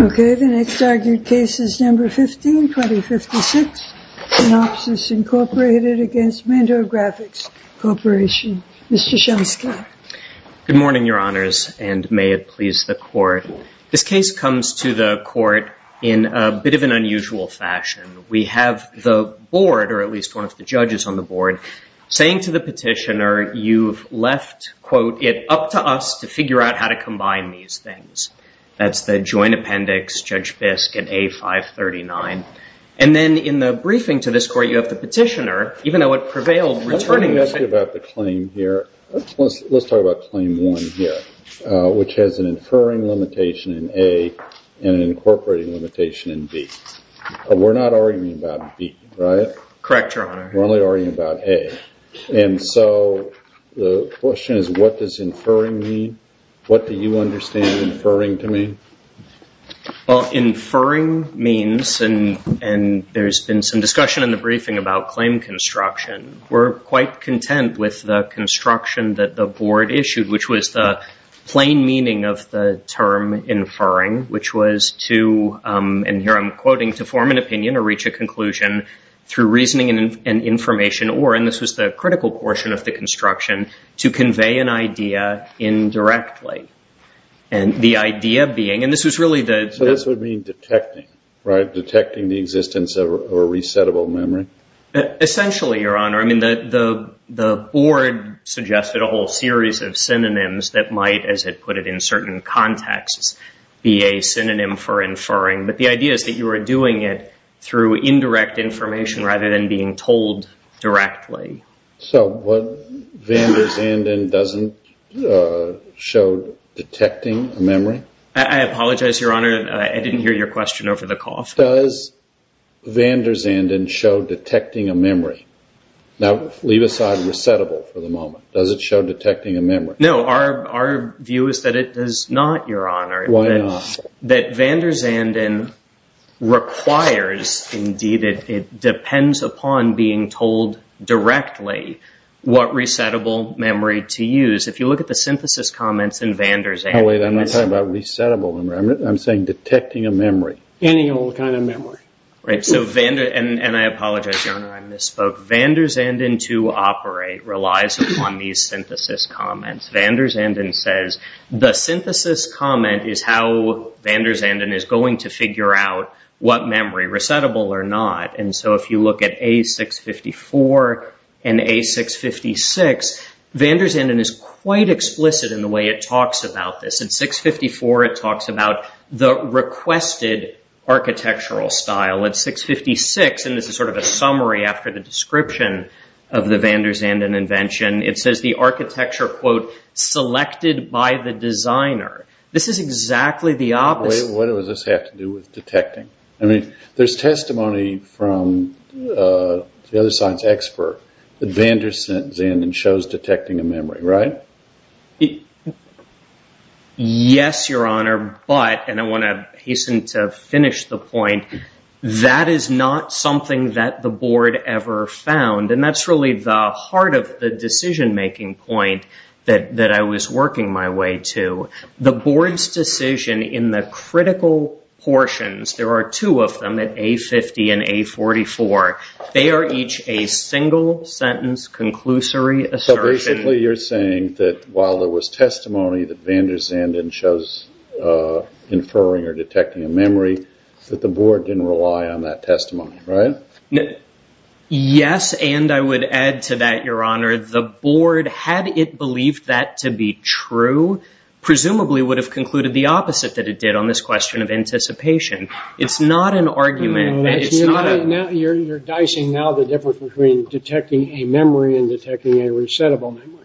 Okay, the next argued case is number 15, 2056, Synopsys, Inc. v. Mentor Graphics Corporation. Mr. Schoenstatt. Good morning, Your Honors, and may it please the Court. This case comes to the Court in a bit of an unusual fashion. We have the Board, or at least one of the judges on the Board, saying to the petitioner, you've left, quote, it up to us to figure out how to combine these things. That's the Joint Appendix, Judge Bisk at A539. And then in the briefing to this Court, you have the petitioner, even though it prevailed, returning the same— Let's talk about the claim here. Let's talk about Claim 1 here, which has an inferring limitation in A and an incorporating limitation in B. We're not arguing about B, right? Correct, Your Honor. We're only arguing about A. And so the question is, what does inferring mean? What do you understand inferring to mean? Well, inferring means, and there's been some discussion in the briefing about claim construction, we're quite content with the construction that the Board issued, which was the plain meaning of the term inferring, which was to, and here I'm quoting, to form an opinion or reach a conclusion through reasoning and information, or, and this was the critical portion of the construction, to convey an idea indirectly. And the idea being, and this was really the— So this would mean detecting, right? Detecting the existence of a resettable memory? Essentially, Your Honor. I mean, the Board suggested a whole series of synonyms that might, as it put it in certain contexts, be a synonym for inferring. But the idea is that you are doing it through indirect information rather than being told directly. So what Vander Zanden doesn't show detecting a memory? I apologize, Your Honor. I didn't hear your question over the cough. Does Vander Zanden show detecting a memory? Now, leave aside resettable for the moment. Does it show detecting a memory? No, our view is that it does not, Your Honor. Why not? That Vander Zanden requires, indeed, it depends upon being told directly what resettable memory to use. If you look at the synthesis comments in Vander Zanden— No, wait, I'm not talking about resettable memory. I'm saying detecting a memory. Any old kind of memory. Right, and I apologize, Your Honor. I misspoke. Vander Zanden to operate relies upon these synthesis comments. Vander Zanden says the synthesis comment is how Vander Zanden is going to figure out what memory, resettable or not. And so if you look at A654 and A656, Vander Zanden is quite explicit in the way it talks about this. At 654, it talks about the requested architectural style. At 656, and this is sort of a summary after the description of the Vander Zanden invention, it says the architecture, quote, selected by the designer. This is exactly the opposite. Wait, what does this have to do with detecting? I mean, there's testimony from the other science expert that Vander Zanden shows detecting a memory, right? Yes, Your Honor. But, and I want to hasten to finish the point, that is not something that the board ever found. And that's really the heart of the decision-making point that I was working my way to. The board's decision in the critical portions, there are two of them at A50 and A44. They are each a single sentence conclusory assertion. You're saying that while there was testimony that Vander Zanden shows inferring or detecting a memory, that the board didn't rely on that testimony, right? Yes, and I would add to that, Your Honor, the board, had it believed that to be true, presumably would have concluded the opposite that it did on this question of anticipation. It's not an argument. You're dicing now the difference between detecting a memory and detecting a resettable memory.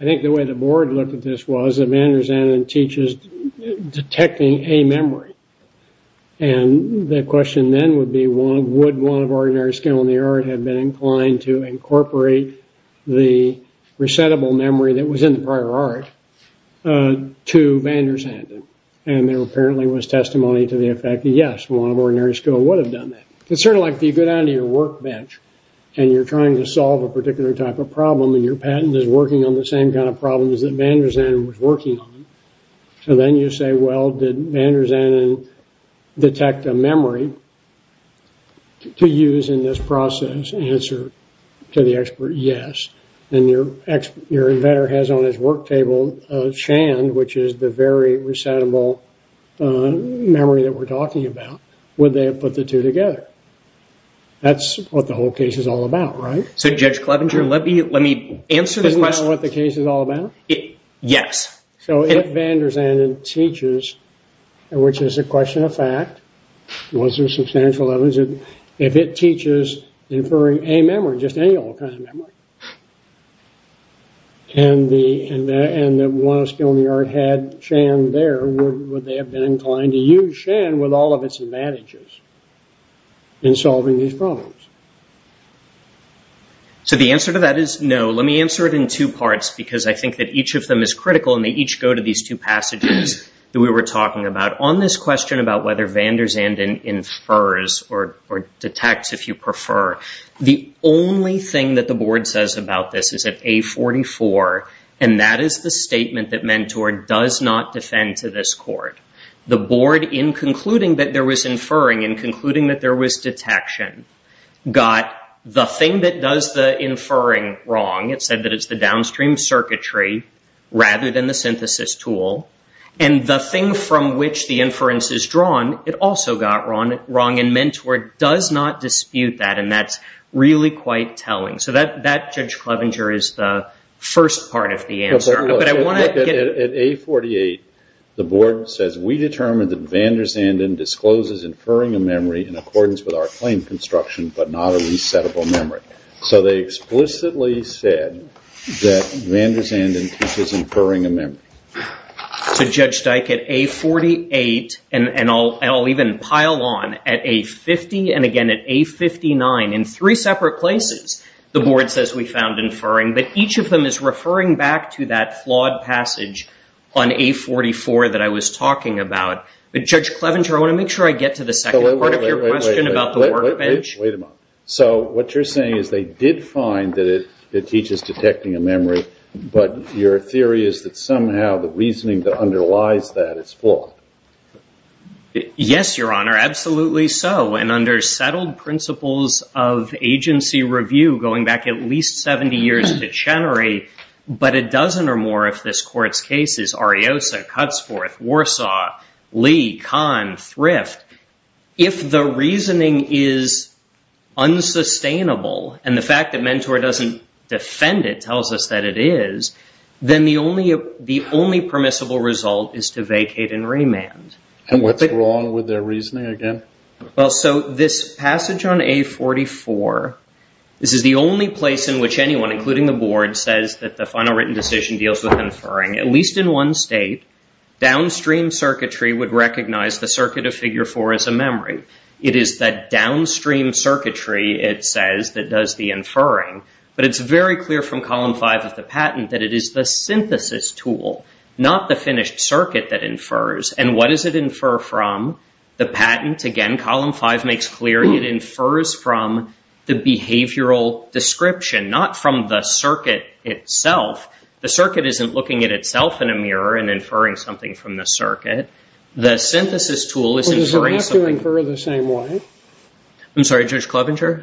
I think the way the board looked at this was that Vander Zanden teaches detecting a memory. And the question then would be, would one of ordinary skill in the art have been inclined to incorporate the resettable memory that was in the prior art to Vander Zanden? And there apparently was testimony to the effect that yes, one of ordinary skill would have done that. It's sort of like you go down to your workbench and you're trying to solve a particular type of problem and your patent is working on the same kind of problems that Vander Zanden was working on. So then you say, well, did Vander Zanden detect a memory to use in this process? Answer to the expert, yes. And your inventor has on his work table a shand, which is the very resettable memory that we're talking about. Would they have put the two together? That's what the whole case is all about, right? So Judge Clevenger, let me answer the question. Isn't that what the case is all about? Yes. So if Vander Zanden teaches, which is a question of fact, once there's substantial evidence, if it teaches inferring a memory, just any old kind of memory, and the one of skill in the art had shand there, would they have been inclined to use shand with all of its advantages? In solving these problems. So the answer to that is no. Let me answer it in two parts, because I think that each of them is critical and they each go to these two passages that we were talking about. On this question about whether Vander Zanden infers or detects, if you prefer, the only thing that the board says about this is that A44, and that is the statement that Mentor does not defend to this court. The board, in concluding that there was inferring, in concluding that there was detection, got the thing that does the inferring wrong. It said that it's the downstream circuitry rather than the synthesis tool. And the thing from which the inference is drawn, it also got wrong. And Mentor does not dispute that. And that's really quite telling. So that, Judge Clevenger, is the first part of the answer. But I want to get- At A48, the board says, we determined that Vander Zanden discloses inferring a memory in accordance with our claim construction, but not a resettable memory. So they explicitly said that Vander Zanden discloses inferring a memory. So, Judge Dyke, at A48, and I'll even pile on, at A50 and, again, at A59, in three separate places, the board says we found inferring, but each of them is referring back to that flawed passage on A44 that I was talking about. But, Judge Clevenger, I want to make sure I get to the second part of your question about the workbench. Wait a minute. So what you're saying is they did find that it teaches detecting a memory, but your theory is that somehow the reasoning that underlies that is flawed. Yes, Your Honor, absolutely so. And under settled principles of agency review, going back at least 70 years to Chenery, but a dozen or more of this court's cases, Ariosa, Cutsforth, Warsaw, Lee, Kahn, Thrift, if the reasoning is unsustainable, and the fact that Mentor doesn't defend it tells us that it is, then the only permissible result is to vacate and remand. And what's wrong with their reasoning again? Well, so this passage on A44, this is the only place in which anyone, including the board, says that the final written decision deals with inferring. At least in one state, downstream circuitry would recognize the circuit of figure four as a memory. It is that downstream circuitry, it says, that does the inferring. But it's very clear from column five of the patent that it is the synthesis tool, not the finished circuit that infers. And what does it infer from? The patent, again, column five makes clear it infers from the behavioral description, not from the circuit itself. The circuit isn't looking at itself in a mirror and inferring something from the circuit. The synthesis tool is inferring something. Well, does it have to infer the same way? I'm sorry, Judge Clovenger?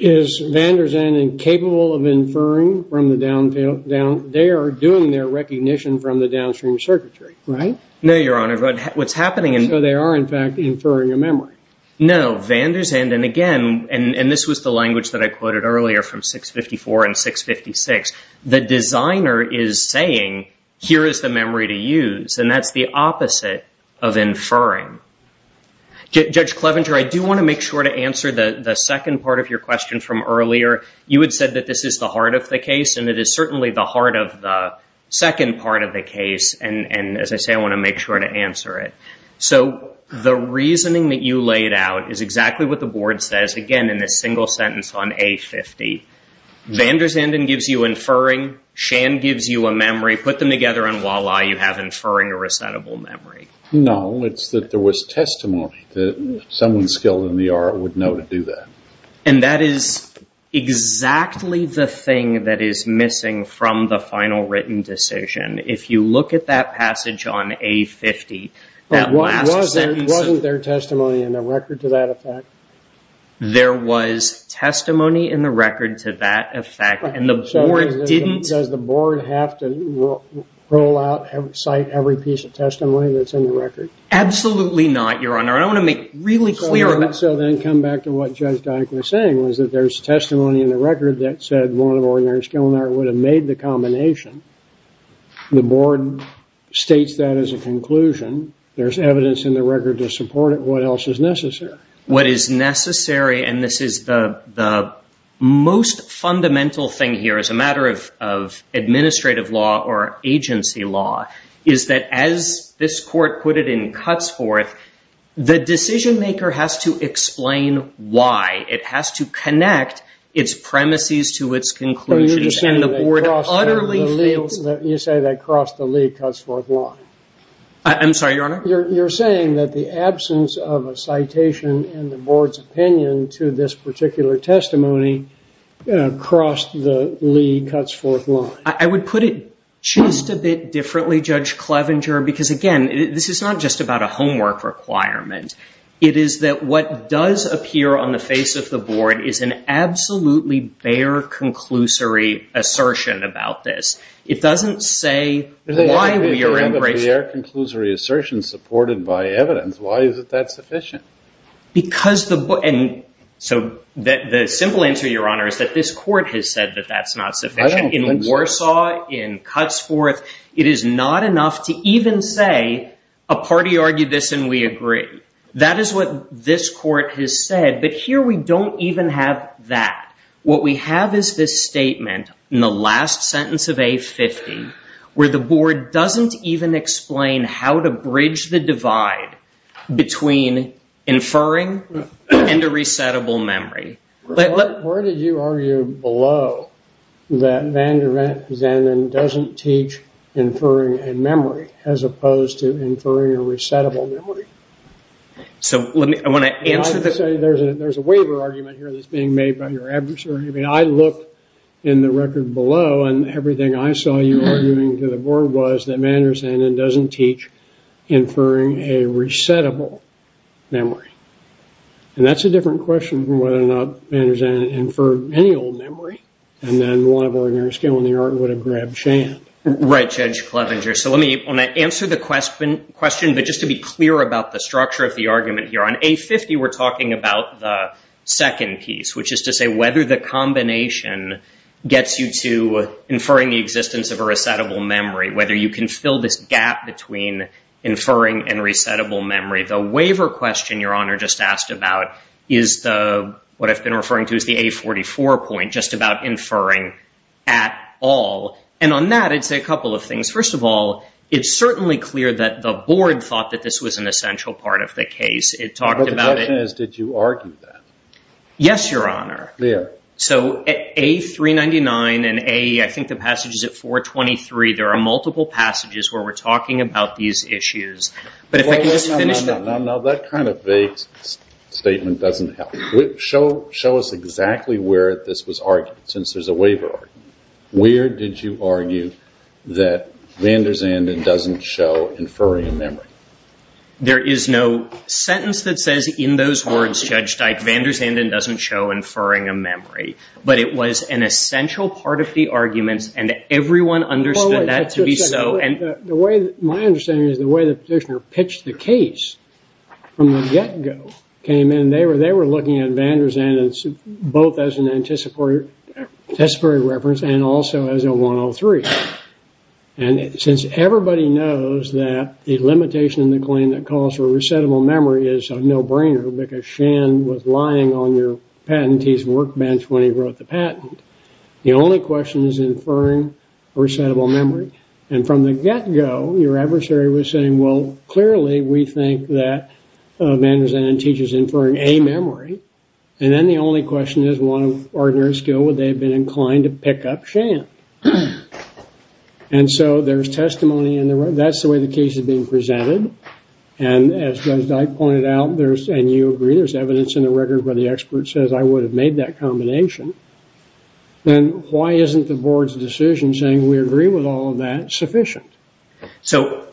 Is Van Der Zanden capable of inferring from the downfill? They are doing their recognition from the downstream circuitry, right? No, Your Honor, but what's happening... So they are, in fact, inferring a memory. No, Van Der Zanden, again, and this was the language that I quoted earlier from 654 and 656. The designer is saying, here is the memory to use, and that's the opposite of inferring. Judge Clovenger, I do want to make sure to answer the second part of your question from earlier. You had said that this is the heart of the case, and it is certainly the heart of the second part of the case. And as I say, I want to make sure to answer it. So the reasoning that you laid out is exactly what the board says, again, in this single sentence on A50. Van Der Zanden gives you inferring. Shan gives you a memory. Put them together, and voila, you have inferring a resettable memory. No, it's that there was testimony that someone skilled in the art would know to do that. And that is exactly the thing that is missing from the final written decision. If you look at that passage on A50, that last sentence... Wasn't there testimony in the record to that effect? There was testimony in the record to that effect, and the board didn't... Roll out, cite every piece of testimony that's in the record? Absolutely not, Your Honor. I want to make really clear about... So then come back to what Judge Dike was saying, was that there's testimony in the record that said one of ordinary skilled in the art would have made the combination. The board states that as a conclusion. There's evidence in the record to support it. What else is necessary? What is necessary, and this is the most fundamental thing here as a matter of administrative law or agency law, is that as this court put it in Cutsforth, the decision-maker has to explain why. It has to connect its premises to its conclusions, and the board utterly fails... You say that crossed the league Cutsforth law. I'm sorry, Your Honor? You're saying that the absence of a citation in the board's opinion to this particular testimony crossed the league Cutsforth law? I would put it just a bit differently, Judge Clevenger, because, again, this is not just about a homework requirement. It is that what does appear on the face of the board is an absolutely bare conclusory assertion about this. It doesn't say why we are embracing... If you have a bare conclusory assertion supported by evidence, why is it that sufficient? Because the... So the simple answer, Your Honor, is that this court has said that that's not sufficient. In Warsaw, in Cutsforth, it is not enough to even say, a party argued this and we agree. That is what this court has said, but here we don't even have that. What we have is this statement in the last sentence of A50 where the board doesn't even explain how to bridge the divide between inferring and a resettable memory. Where did you argue below that Vander Zanden doesn't teach inferring and memory as opposed to inferring a resettable memory? So I want to answer... There's a waiver argument here that's being made by your adversary. I looked in the record below and everything I saw you arguing to the board was that Vander Zanden doesn't teach inferring a resettable memory. And that's a different question from whether or not Vander Zanden inferred any old memory and then one of ordinary skill in the art would have grabbed Shan. Right, Judge Clevenger. So let me answer the question, but just to be clear about the structure of the argument here. On A50, we're talking about the second piece, which is to say whether the combination gets you to inferring the existence of a resettable memory, whether you can fill this gap between inferring and resettable memory. The waiver question your honor just asked about is what I've been referring to as the A44 point, just about inferring at all. And on that, it's a couple of things. First of all, it's certainly clear that the board thought that this was an essential part of the case. It talked about it. But the question is, did you argue that? Yes, your honor. Clear. So A399 and A, I think the passage is at 423, there are multiple passages where we're talking about these issues. But if I can just finish that. No, no, no. That kind of vague statement doesn't help. Show us exactly where this was argued since there's a waiver argument. Where did you argue that van der Zanden doesn't show inferring a memory? There is no sentence that says in those words, Judge Dyke, but it was an essential part of the arguments and everyone understood that to be so. My understanding is the way the petitioner pitched the case from the get-go came in, they were looking at van der Zanden both as an anticipatory reference and also as a 103. And since everybody knows that the limitation in the claim that calls for a resettable memory is a no-brainer because Shan was lying on your patentee's workbench when he wrote the patent. The only question is inferring a resettable memory. And from the get-go, your adversary was saying, well, clearly we think that van der Zanden teaches inferring a memory. And then the only question is, what of ordinary skill would they have been inclined to pick up Shan? And so there's testimony in there. That's the way the case is being presented. And as Judge Dyke pointed out, and you agree, there's evidence in the record where the expert says I would have made that combination. Then why isn't the board's decision saying we agree with all of that sufficient? So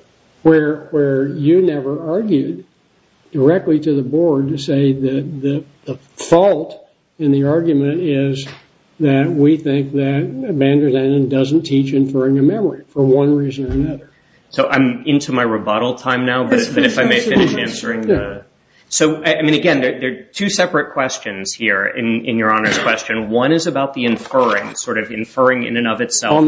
where you never argued directly to the board to say that the fault in the argument is that we think that van der Zanden doesn't teach inferring a memory for one reason or another. So I'm into my rebuttal time now, but if I may finish answering. So, I mean, again, there are two separate questions here in your Honor's question. One is about the inferring, sort of inferring in and of itself. And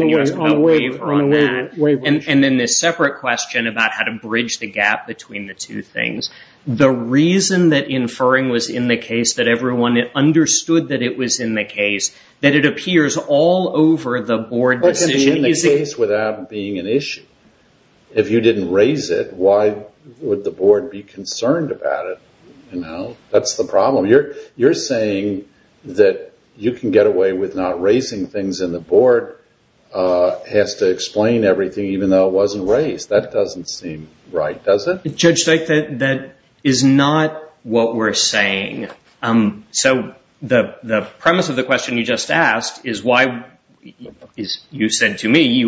then this separate question about how to bridge the gap between the two things. The reason that inferring was in the case that everyone understood that it was in the case, that it appears all over the board decision. It can be in the case without being an issue. If you didn't raise it, why would the board be concerned about it? That's the problem. You're saying that you can get away with not raising things and the board has to explain everything, even though it wasn't raised. That doesn't seem right, does it? Judge Steik, that is not what we're saying. So the premise of the question you just asked is why you said to me,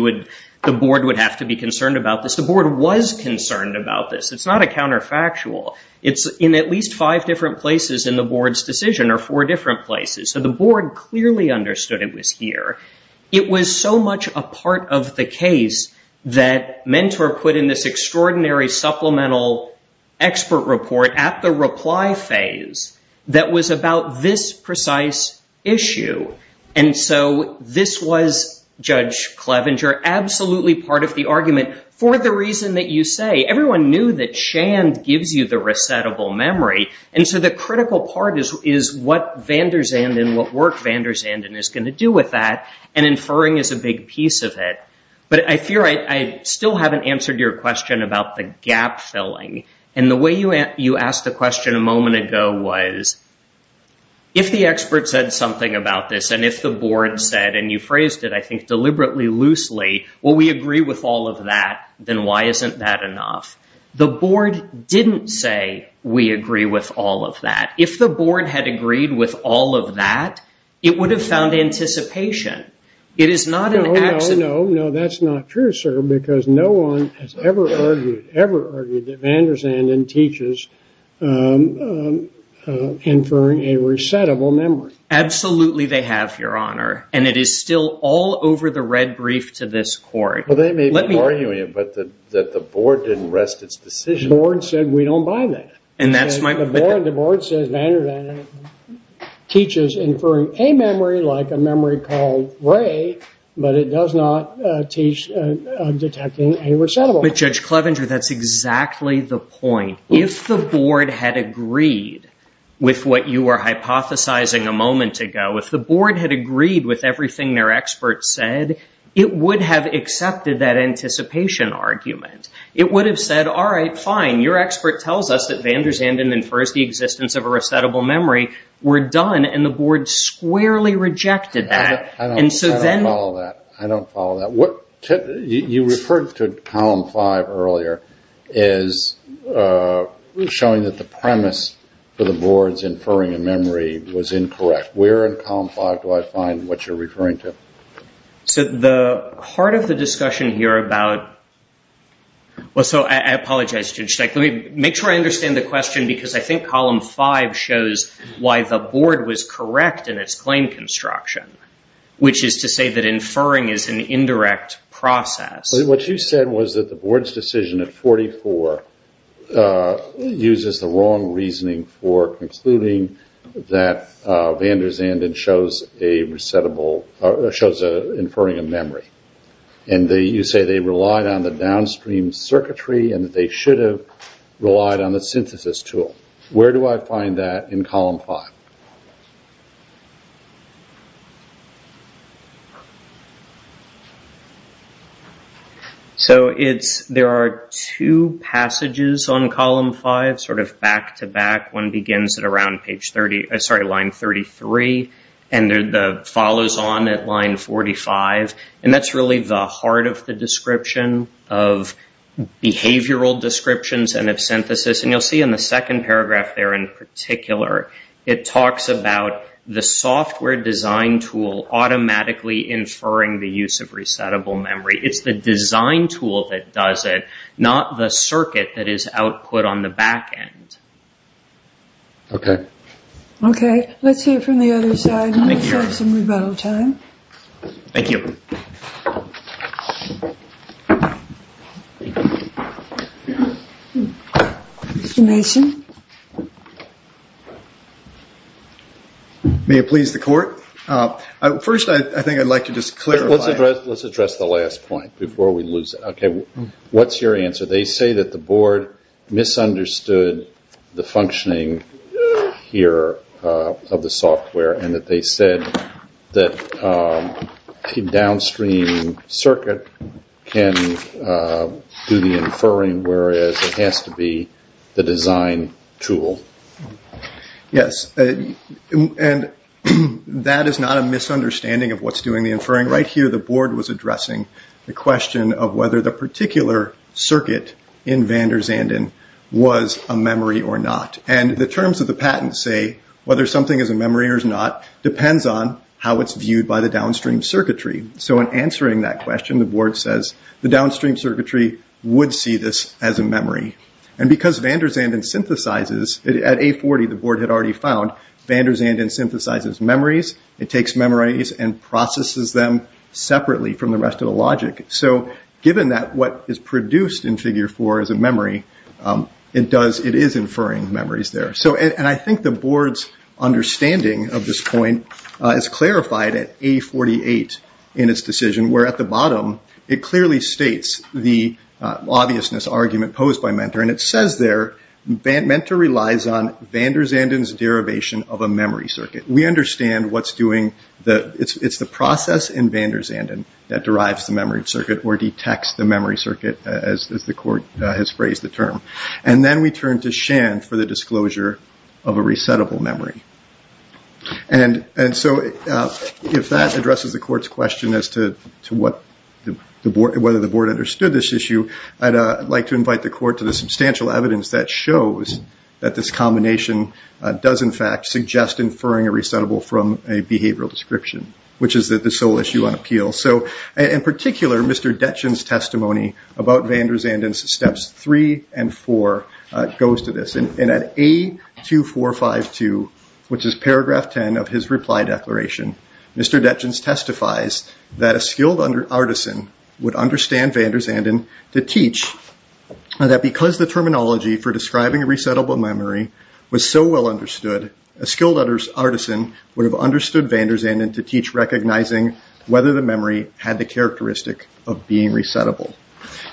the board would have to be concerned about this. The board was concerned about this. It's not a counterfactual. It's in at least five different places in the board's decision or four different places. So the board clearly understood it was here. It was so much a part of the case that Mentor put in this extraordinary supplemental expert report at the reply phase that was about this precise issue. And so this was, Judge Clevenger, absolutely part of the argument for the reason that you say. Everyone knew that Shand gives you the resettable memory. And so the critical part is what Van Der Zanden, what work Van Der Zanden is going to do with that. And inferring is a big piece of it. But I fear I still haven't answered your question about the gap filling. And the way you asked the question a moment ago was, if the expert said something about this and if the board said, and you phrased it, I think, deliberately loosely, well, we agree with all of that, then why isn't that enough? The board didn't say, we agree with all of that. If the board had agreed with all of that, it would have found anticipation. It is not an absolute. No, no, no. That's not true, sir, because no one has ever argued, ever argued that Van Der Zanden teaches inferring a resettable memory. Absolutely they have, Your Honor. And it is still all over the red brief to this court. Well, they may be arguing it, that the board didn't rest its decision. The board said, we don't buy that. And that's my point. The board says Van Der Zanden teaches inferring a memory, like a memory called ray, but it does not teach detecting a resettable. But Judge Clevenger, that's exactly the point. If the board had agreed with what you were hypothesizing a moment ago, if the board had agreed with everything their experts said, it would have accepted that anticipation argument. It would have said, all right, fine. Your expert tells us that Van Der Zanden infers the existence of a resettable memory. We're done. And the board squarely rejected that. I don't follow that. I don't follow that. You referred to column five earlier as showing that the premise for the board's inferring a memory was incorrect. Where in column five do I find what you're referring to? So the part of the discussion here about, well, so I apologize, Judge Stech. Let me make sure I understand the question because I think column five shows why the board was correct in its claim construction, which is to say that inferring is an indirect process. What you said was that the board's decision at 44 uses the wrong reasoning for concluding that Van Der Zanden shows inferring a memory. And you say they relied on the downstream circuitry and that they should have relied on the synthesis tool. Where do I find that in column five? So there are two passages on column five, sort of back to back. One begins at around line 33 and follows on at line 45. And that's really the heart of the description of behavioral descriptions and of synthesis. And you'll see in the second paragraph there in particular, it talks about the software design tool automatically inferring the use of resettable memory. It's the design tool that does it, not the circuit that is output on the back end. Okay. Okay, let's hear from the other side. Thank you. Thank you. May it please the court? First, I think I'd like to just clarify. Let's address the last point before we lose it. Okay, what's your answer? They say that the board misunderstood the functioning here of the software and that they said that a downstream circuit can do the inferring, whereas it has to be the design tool. Yes, and that is not a misunderstanding of what's doing the inferring. Right here, the board was addressing the question of whether the particular circuit in van der Zanden was a memory or not. And the terms of the patent say whether something is a memory or not depends on how it's viewed by the downstream circuitry. So in answering that question, the board says the downstream circuitry would see this as a memory. And because van der Zanden synthesizes, at A40, the board had already found, van der Zanden synthesizes memories. It takes memories and processes them separately from the rest of the logic. So given that what is produced in figure four is a memory, it is inferring memories there. So I think the board's understanding of this point is clarified at A48 in its decision, where at the bottom, it clearly states the obviousness argument posed by Mentor. And it says there, Mentor relies on van der Zanden's derivation of a memory circuit. We understand what's doing, it's the process in van der Zanden that derives the memory circuit or detects the memory circuit, as the court has phrased the term. And then we turn to Shan for the disclosure of a resettable memory. And so if that addresses the court's question as to whether the board understood this issue, I'd like to invite the court to the substantial evidence that shows that this combination does, in fact, which is the sole issue on appeal. In particular, Mr. Detjen's testimony about van der Zanden's steps three and four goes to this. And at A2452, which is paragraph 10 of his reply declaration, Mr. Detjen's testifies that a skilled artisan would understand van der Zanden to teach that because the terminology for describing a resettable memory was so well understood, a skilled artisan would have understood van der Zanden to teach recognizing whether the memory had the characteristic of being resettable.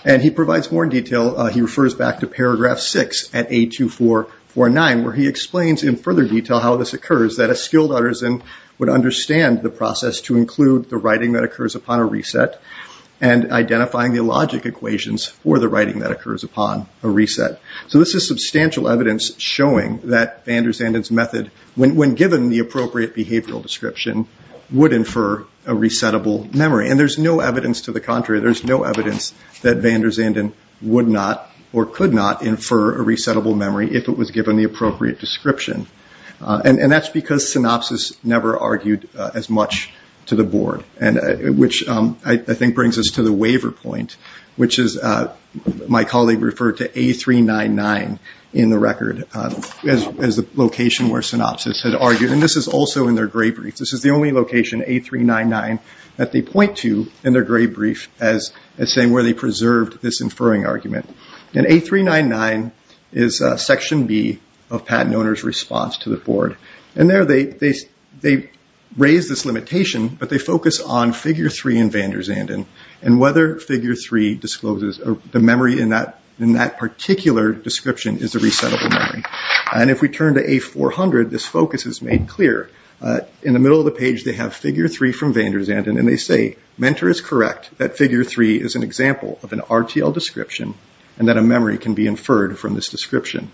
And he provides more detail, he refers back to paragraph six at A2449, where he explains in further detail how this occurs, that a skilled artisan would understand the process to include the writing that occurs upon a reset and identifying the logic equations for the writing that occurs upon a reset. So this is substantial evidence showing that van der Zanden's method, when given the appropriate behavioral description, would infer a resettable memory. And there's no evidence to the contrary, there's no evidence that van der Zanden would not or could not infer a resettable memory if it was given the appropriate description. And that's because Synopsys never argued as much to the board, and which I think brings us to the waiver point, which is my colleague referred to A399 in the record as the location where Synopsys had argued. And this is also in their gravereads, this is the only location, A399, that they point to in their gray brief as saying where they preserved this inferring argument. And A399 is section B of patent owner's response to the board. And there they raise this limitation, but they focus on figure three in van der Zanden, and whether figure three discloses the memory in that particular description is a resettable memory. And if we turn to A400, this focus is made clear. In the middle of the page, they have figure three from van der Zanden, and they say, mentor is correct that figure three is an example of an RTL description, and that a memory can be inferred from this description.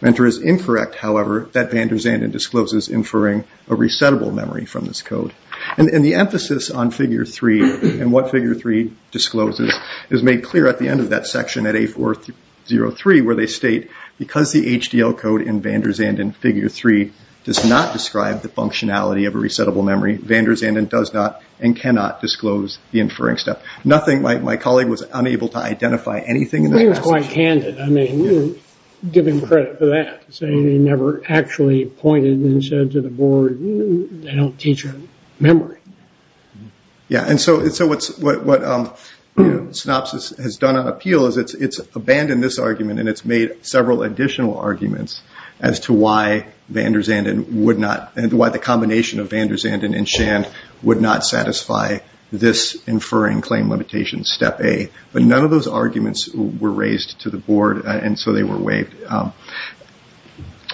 Mentor is incorrect, however, that van der Zanden discloses inferring a resettable memory from this code. And the emphasis on figure three and what figure three discloses is made clear at the end of that section at A403, where they state because the HDL code in van der Zanden figure three does not describe the functionality of a resettable memory, van der Zanden does not and cannot disclose the inferring step. Nothing, my colleague was unable to identify anything. He was quite candid. I mean, give him credit for that, saying he never actually pointed and said to the board, they don't teach memory. Yeah, and so what Synopsys has done on appeal is it's abandoned this argument, and it's made several additional arguments as to why van der Zanden would not, why the combination of van der Zanden and Shand would not satisfy this inferring claim limitation step A. But none of those arguments were raised to the board, and so they were waived.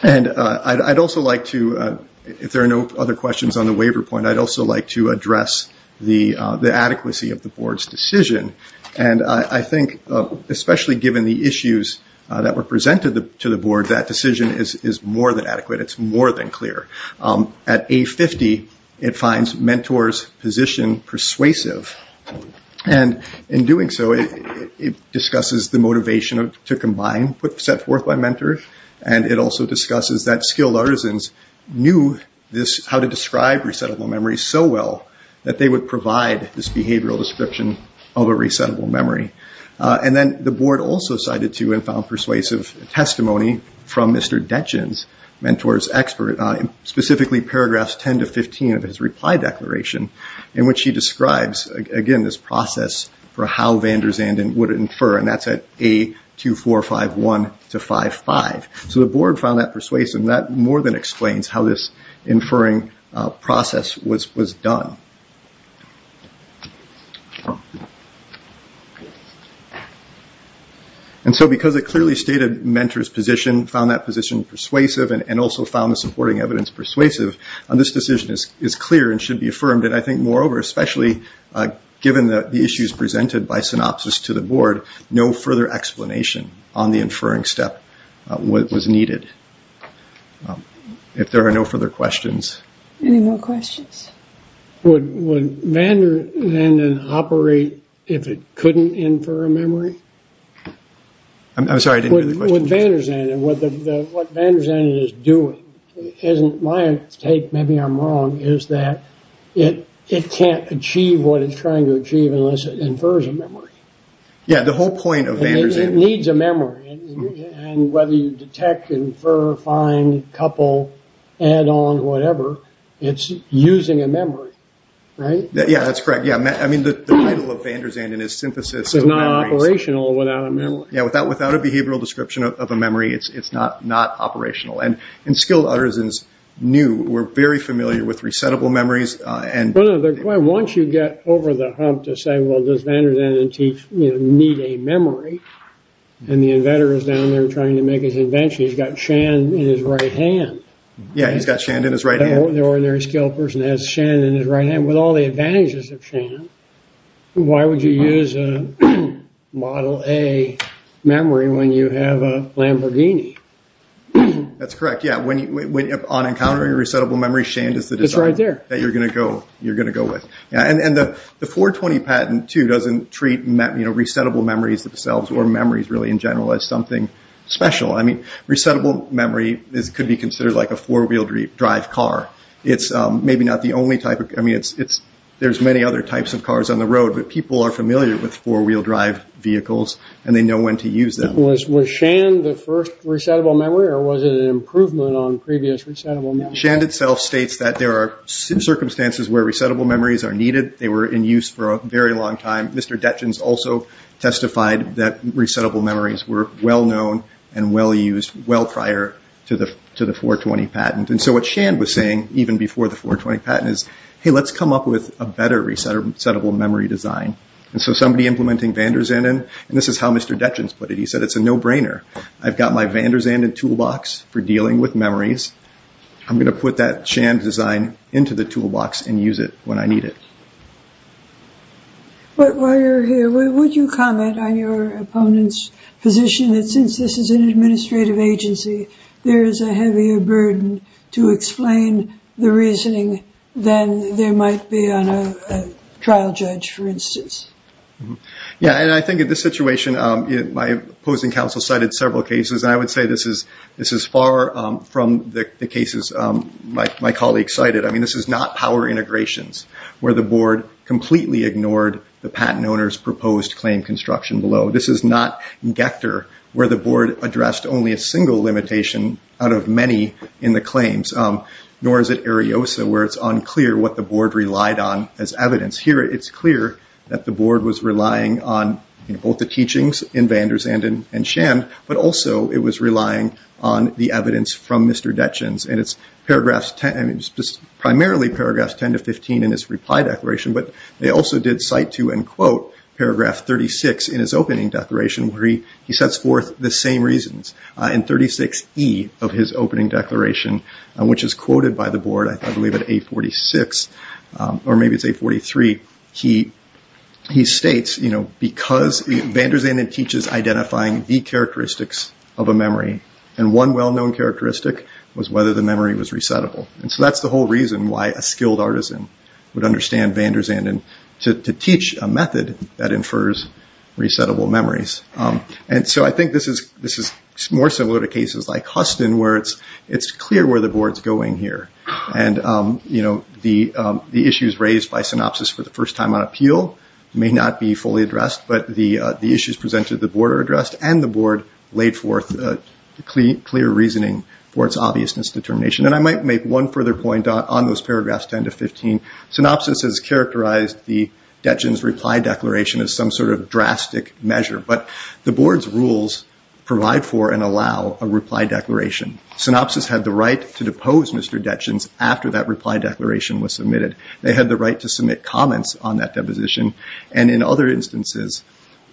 And I'd also like to, if there are no other questions on the waiver point, I'd also like to address the adequacy of the board's decision. And I think, especially given the issues that were presented to the board, that decision is more than adequate. It's more than clear. At A50, it finds mentors' position persuasive. And in doing so, it discusses the motivation to combine, set forth by mentors, and it also discusses that skilled artisans knew how to describe resettable memory so well that they would provide this behavioral description of a resettable memory. And then the board also cited to and found persuasive testimony from Mr. Detjen's mentor's expert, specifically paragraphs 10 to 15 of his reply declaration, in which he describes, again, this process for how van der Zanden would infer, and that's at A2451 to 55. So the board found that persuasive, and that more than explains how this inferring process was done. And so because it clearly stated mentors' position, found that position persuasive, and also found the supporting evidence persuasive, this decision is clear and should be affirmed. And I think, moreover, especially given the issues presented by synopsis to the board, no further explanation on the inferring step was needed. Any more questions? Well, I think that's all I have. Would van der Zanden operate if it couldn't infer a memory? I'm sorry, I didn't hear the question. Would van der Zanden, what van der Zanden is doing, my take, maybe I'm wrong, is that it can't achieve what it's trying to achieve unless it infers a memory. Yeah, the whole point of van der Zanden. It needs a memory. And whether you detect, infer, find, couple, add on, whatever, it's using a memory. Right? Yeah, that's correct. Yeah, I mean, the title of van der Zanden is synthesis of memories. It's not operational without a memory. Yeah, without a behavioral description of a memory, it's not operational. And skilled uttersons knew, were very familiar with resettable memories. Once you get over the hump to say, well, does van der Zanden need a memory? And the inventor is down there trying to make his invention. He's got Shan in his right hand. Yeah, he's got Shan in his right hand. The ordinary skilled person has Shan in his right hand. With all the advantages of Shan, why would you use a Model A memory when you have a Lamborghini? That's correct, yeah. On encountering a resettable memory, Shan is the design. It's right there. That you're going to go with. And the 420 patent, too, doesn't treat resettable memories themselves, or memories really in general, as something special. I mean, resettable memory could be considered like a four-wheel drive car. It's maybe not the only type. There's many other types of cars on the road, but people are familiar with four-wheel drive vehicles, and they know when to use them. Was Shan the first resettable memory, or was it an improvement on previous resettable memories? Shan itself states that there are circumstances where resettable memories are needed. They were in use for a very long time. Mr. Detjens also testified that resettable memories were well-known and well-used, well prior to the 420 patent. And so what Shan was saying, even before the 420 patent, hey, let's come up with a better resettable memory design. And so somebody implementing van der Zanden, and this is how Mr. Detjens put it, he said, it's a no-brainer. I've got my van der Zanden toolbox for dealing with memories. I'm going to put that Shan design into the toolbox and use it when I need it. But while you're here, would you comment on your opponent's position that since this is an administrative agency, there is a heavier burden to explain the reasoning than there might be on a trial judge, for instance? Yeah, and I think in this situation, my opposing counsel cited several cases. I would say this is far from the cases my colleague cited. I mean, this is not power integrations where the board completely ignored the patent owner's proposed claim construction below. This is not Gector, where the board addressed only a single limitation out of many in the claims, nor is it Ariosa, where it's unclear what the board relied on as evidence. Here, it's clear that the board was relying on both the teachings in van der Zanden and Shan, but also it was relying on the evidence from Mr. Detjens. And it's primarily paragraphs 10 to 15 in his reply declaration, but they also did cite to and quote paragraph 36 in his opening declaration, where he sets forth the same reasons in 36E of his opening declaration, which is quoted by the board, I believe at 846, or maybe it's 843. He states, you know, because van der Zanden teaches identifying the characteristics of a memory, and one well-known characteristic was whether the memory was resettable. And so that's the whole reason why a skilled artisan would understand van der Zanden to teach a method that infers resettable memories. And so I think this is more similar to cases like Huston, where it's clear where the board's going here. And, you know, the issues raised by synopsis for the first time on appeal may not be fully addressed, but the issues presented to the board are addressed, and the board laid forth clear reasoning for its obviousness determination. And I might make one further point on those paragraphs 10 to 15. Synopsis has characterized the Detjens reply declaration as some sort of drastic measure, but the board's rules provide for and allow a reply declaration. Synopsis had the right to depose Mr. Detjens after that reply declaration was submitted. They had the right to submit comments on that deposition. And in other instances,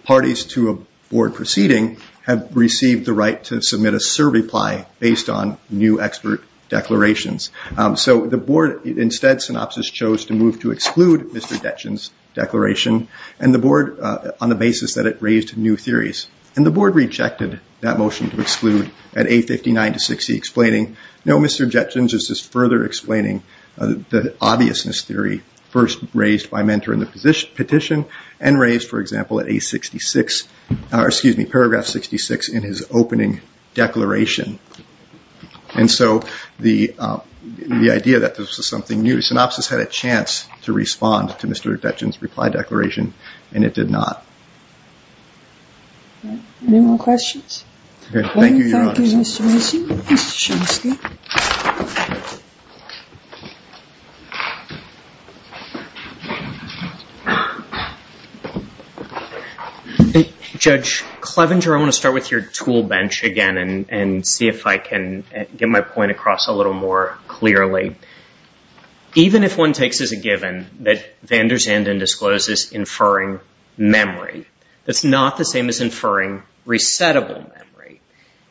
parties to a board proceeding have received the right to submit a survey reply based on new expert declarations. So the board instead, synopsis chose to move to exclude Mr. Detjens' declaration and the board on the basis that it raised new theories. And the board rejected that motion to exclude at A59 to 60 explaining, no, Mr. Detjens is just further explaining the obviousness theory first raised by mentor in the petition and raised, for example, at A66, or excuse me, paragraph 66 in his opening declaration. And so the idea that this was something new, synopsis had a chance to respond to Mr. Detjens' reply declaration, and it did not. Any more questions? Thank you, Your Honor. Thank you, Mr. Mason. Judge Clevenger, I want to start with your tool bench again and see if I can get my point across a little more clearly. Even if one takes as a given that van der Zanden discloses inferring memory, that's not the same as inferring resettable memory.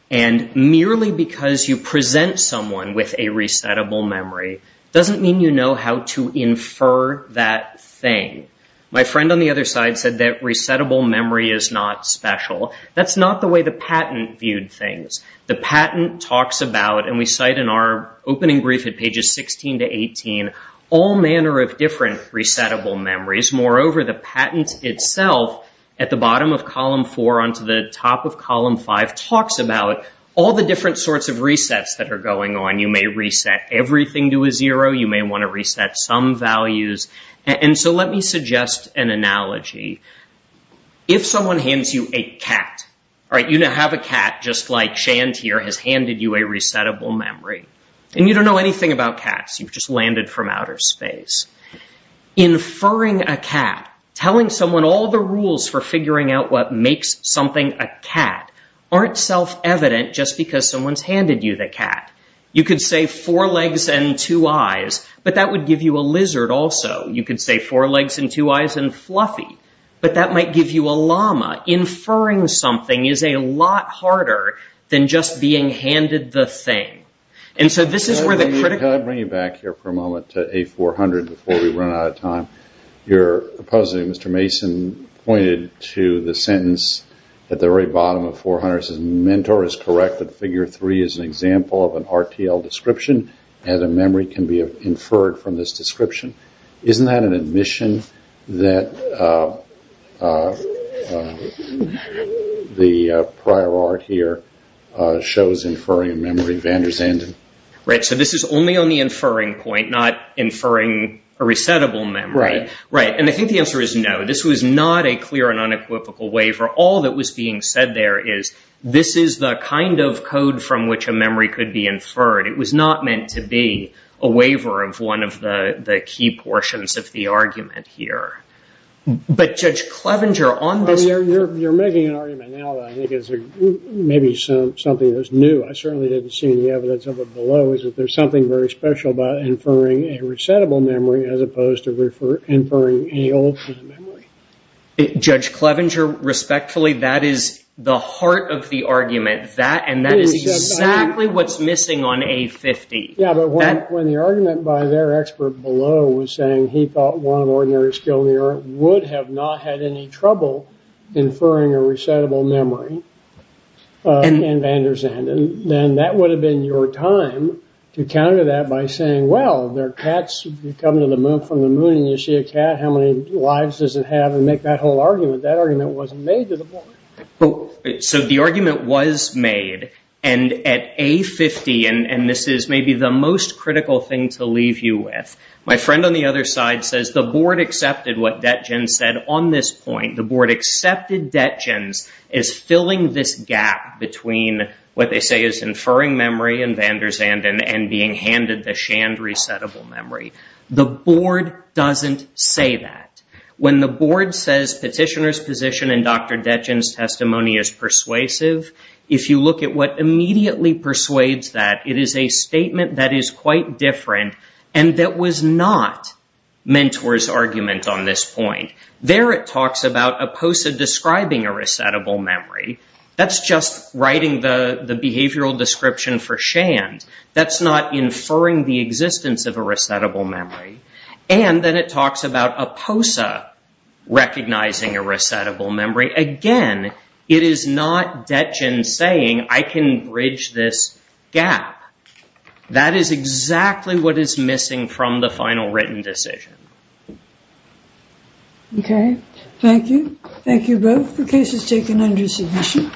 And merely because you present someone with a resettable memory doesn't mean you know how to infer that thing. My friend on the other side said that resettable memory is not special. That's not the way the patent viewed things. The patent talks about, and we cite in our opening brief at pages 16 to 18, all manner of different resettable memories. Moreover, the patent itself, at the bottom of column four onto the top of column five, talks about all the different sorts of resets that are going on. You may reset everything to a zero. You may want to reset some values. And so let me suggest an analogy. If someone hands you a cat, all right, you have a cat, just like Shand here has handed you a resettable memory, and you don't know anything about cats. You've just landed from outer space. Inferring a cat, telling someone all the rules for figuring out what makes something a cat aren't self-evident just because someone's handed you the cat. You could say four legs and two eyes, but that would give you a lizard also. You could say four legs and two eyes and fluffy, but that might give you a llama. Inferring something is a lot harder than just being handed the thing. And so this is where the critical... Before we run out of time, your opposite, Mr. Mason, pointed to the sentence at the very bottom of 400, says mentor is correct that figure three is an example of an RTL description and a memory can be inferred from this description. Isn't that an admission that the prior art here shows inferring a memory van der Zanden? Right, so this is only on the inferring point, not inferring a resettable memory. Right, and I think the answer is no. This was not a clear and unequivocal waiver. All that was being said there is this is the kind of code from which a memory could be inferred. It was not meant to be a waiver of one of the key portions of the argument here. But Judge Clevenger on this... You're making an argument now that I think is maybe something that's new. I certainly didn't see any evidence of it below is that there's something very special about inferring a resettable memory as opposed to inferring a old memory. Judge Clevenger, respectfully, that is the heart of the argument. That and that is exactly what's missing on A50. Yeah, but when the argument by their expert below was saying he thought one ordinary skill mirror would have not had any trouble inferring a resettable memory in van der Zanden, then that would have been your time to counter that by saying, well, there are cats who come to the moon from the moon and you see a cat, how many lives does it have? And make that whole argument. That argument wasn't made to the board. So the argument was made and at A50, and this is maybe the most critical thing to leave you with. My friend on the other side says the board accepted what Detjen said on this point. The board accepted Detjen's is filling this gap between what they say is inferring memory in van der Zanden and being handed the shanned resettable memory. The board doesn't say that. When the board says petitioner's position and Dr. Detjen's testimony is persuasive, if you look at what immediately persuades that, it is a statement that is quite different and that was not mentor's argument on this point. There it talks about Oposa describing a resettable memory. That's just writing the behavioral description for shanned. That's not inferring the existence of a resettable memory. And then it talks about Oposa recognizing a resettable memory. Again, it is not Detjen saying I can bridge this gap. That is exactly what is missing from the final written decision. Okay, thank you. Thank you both for cases taken under submission.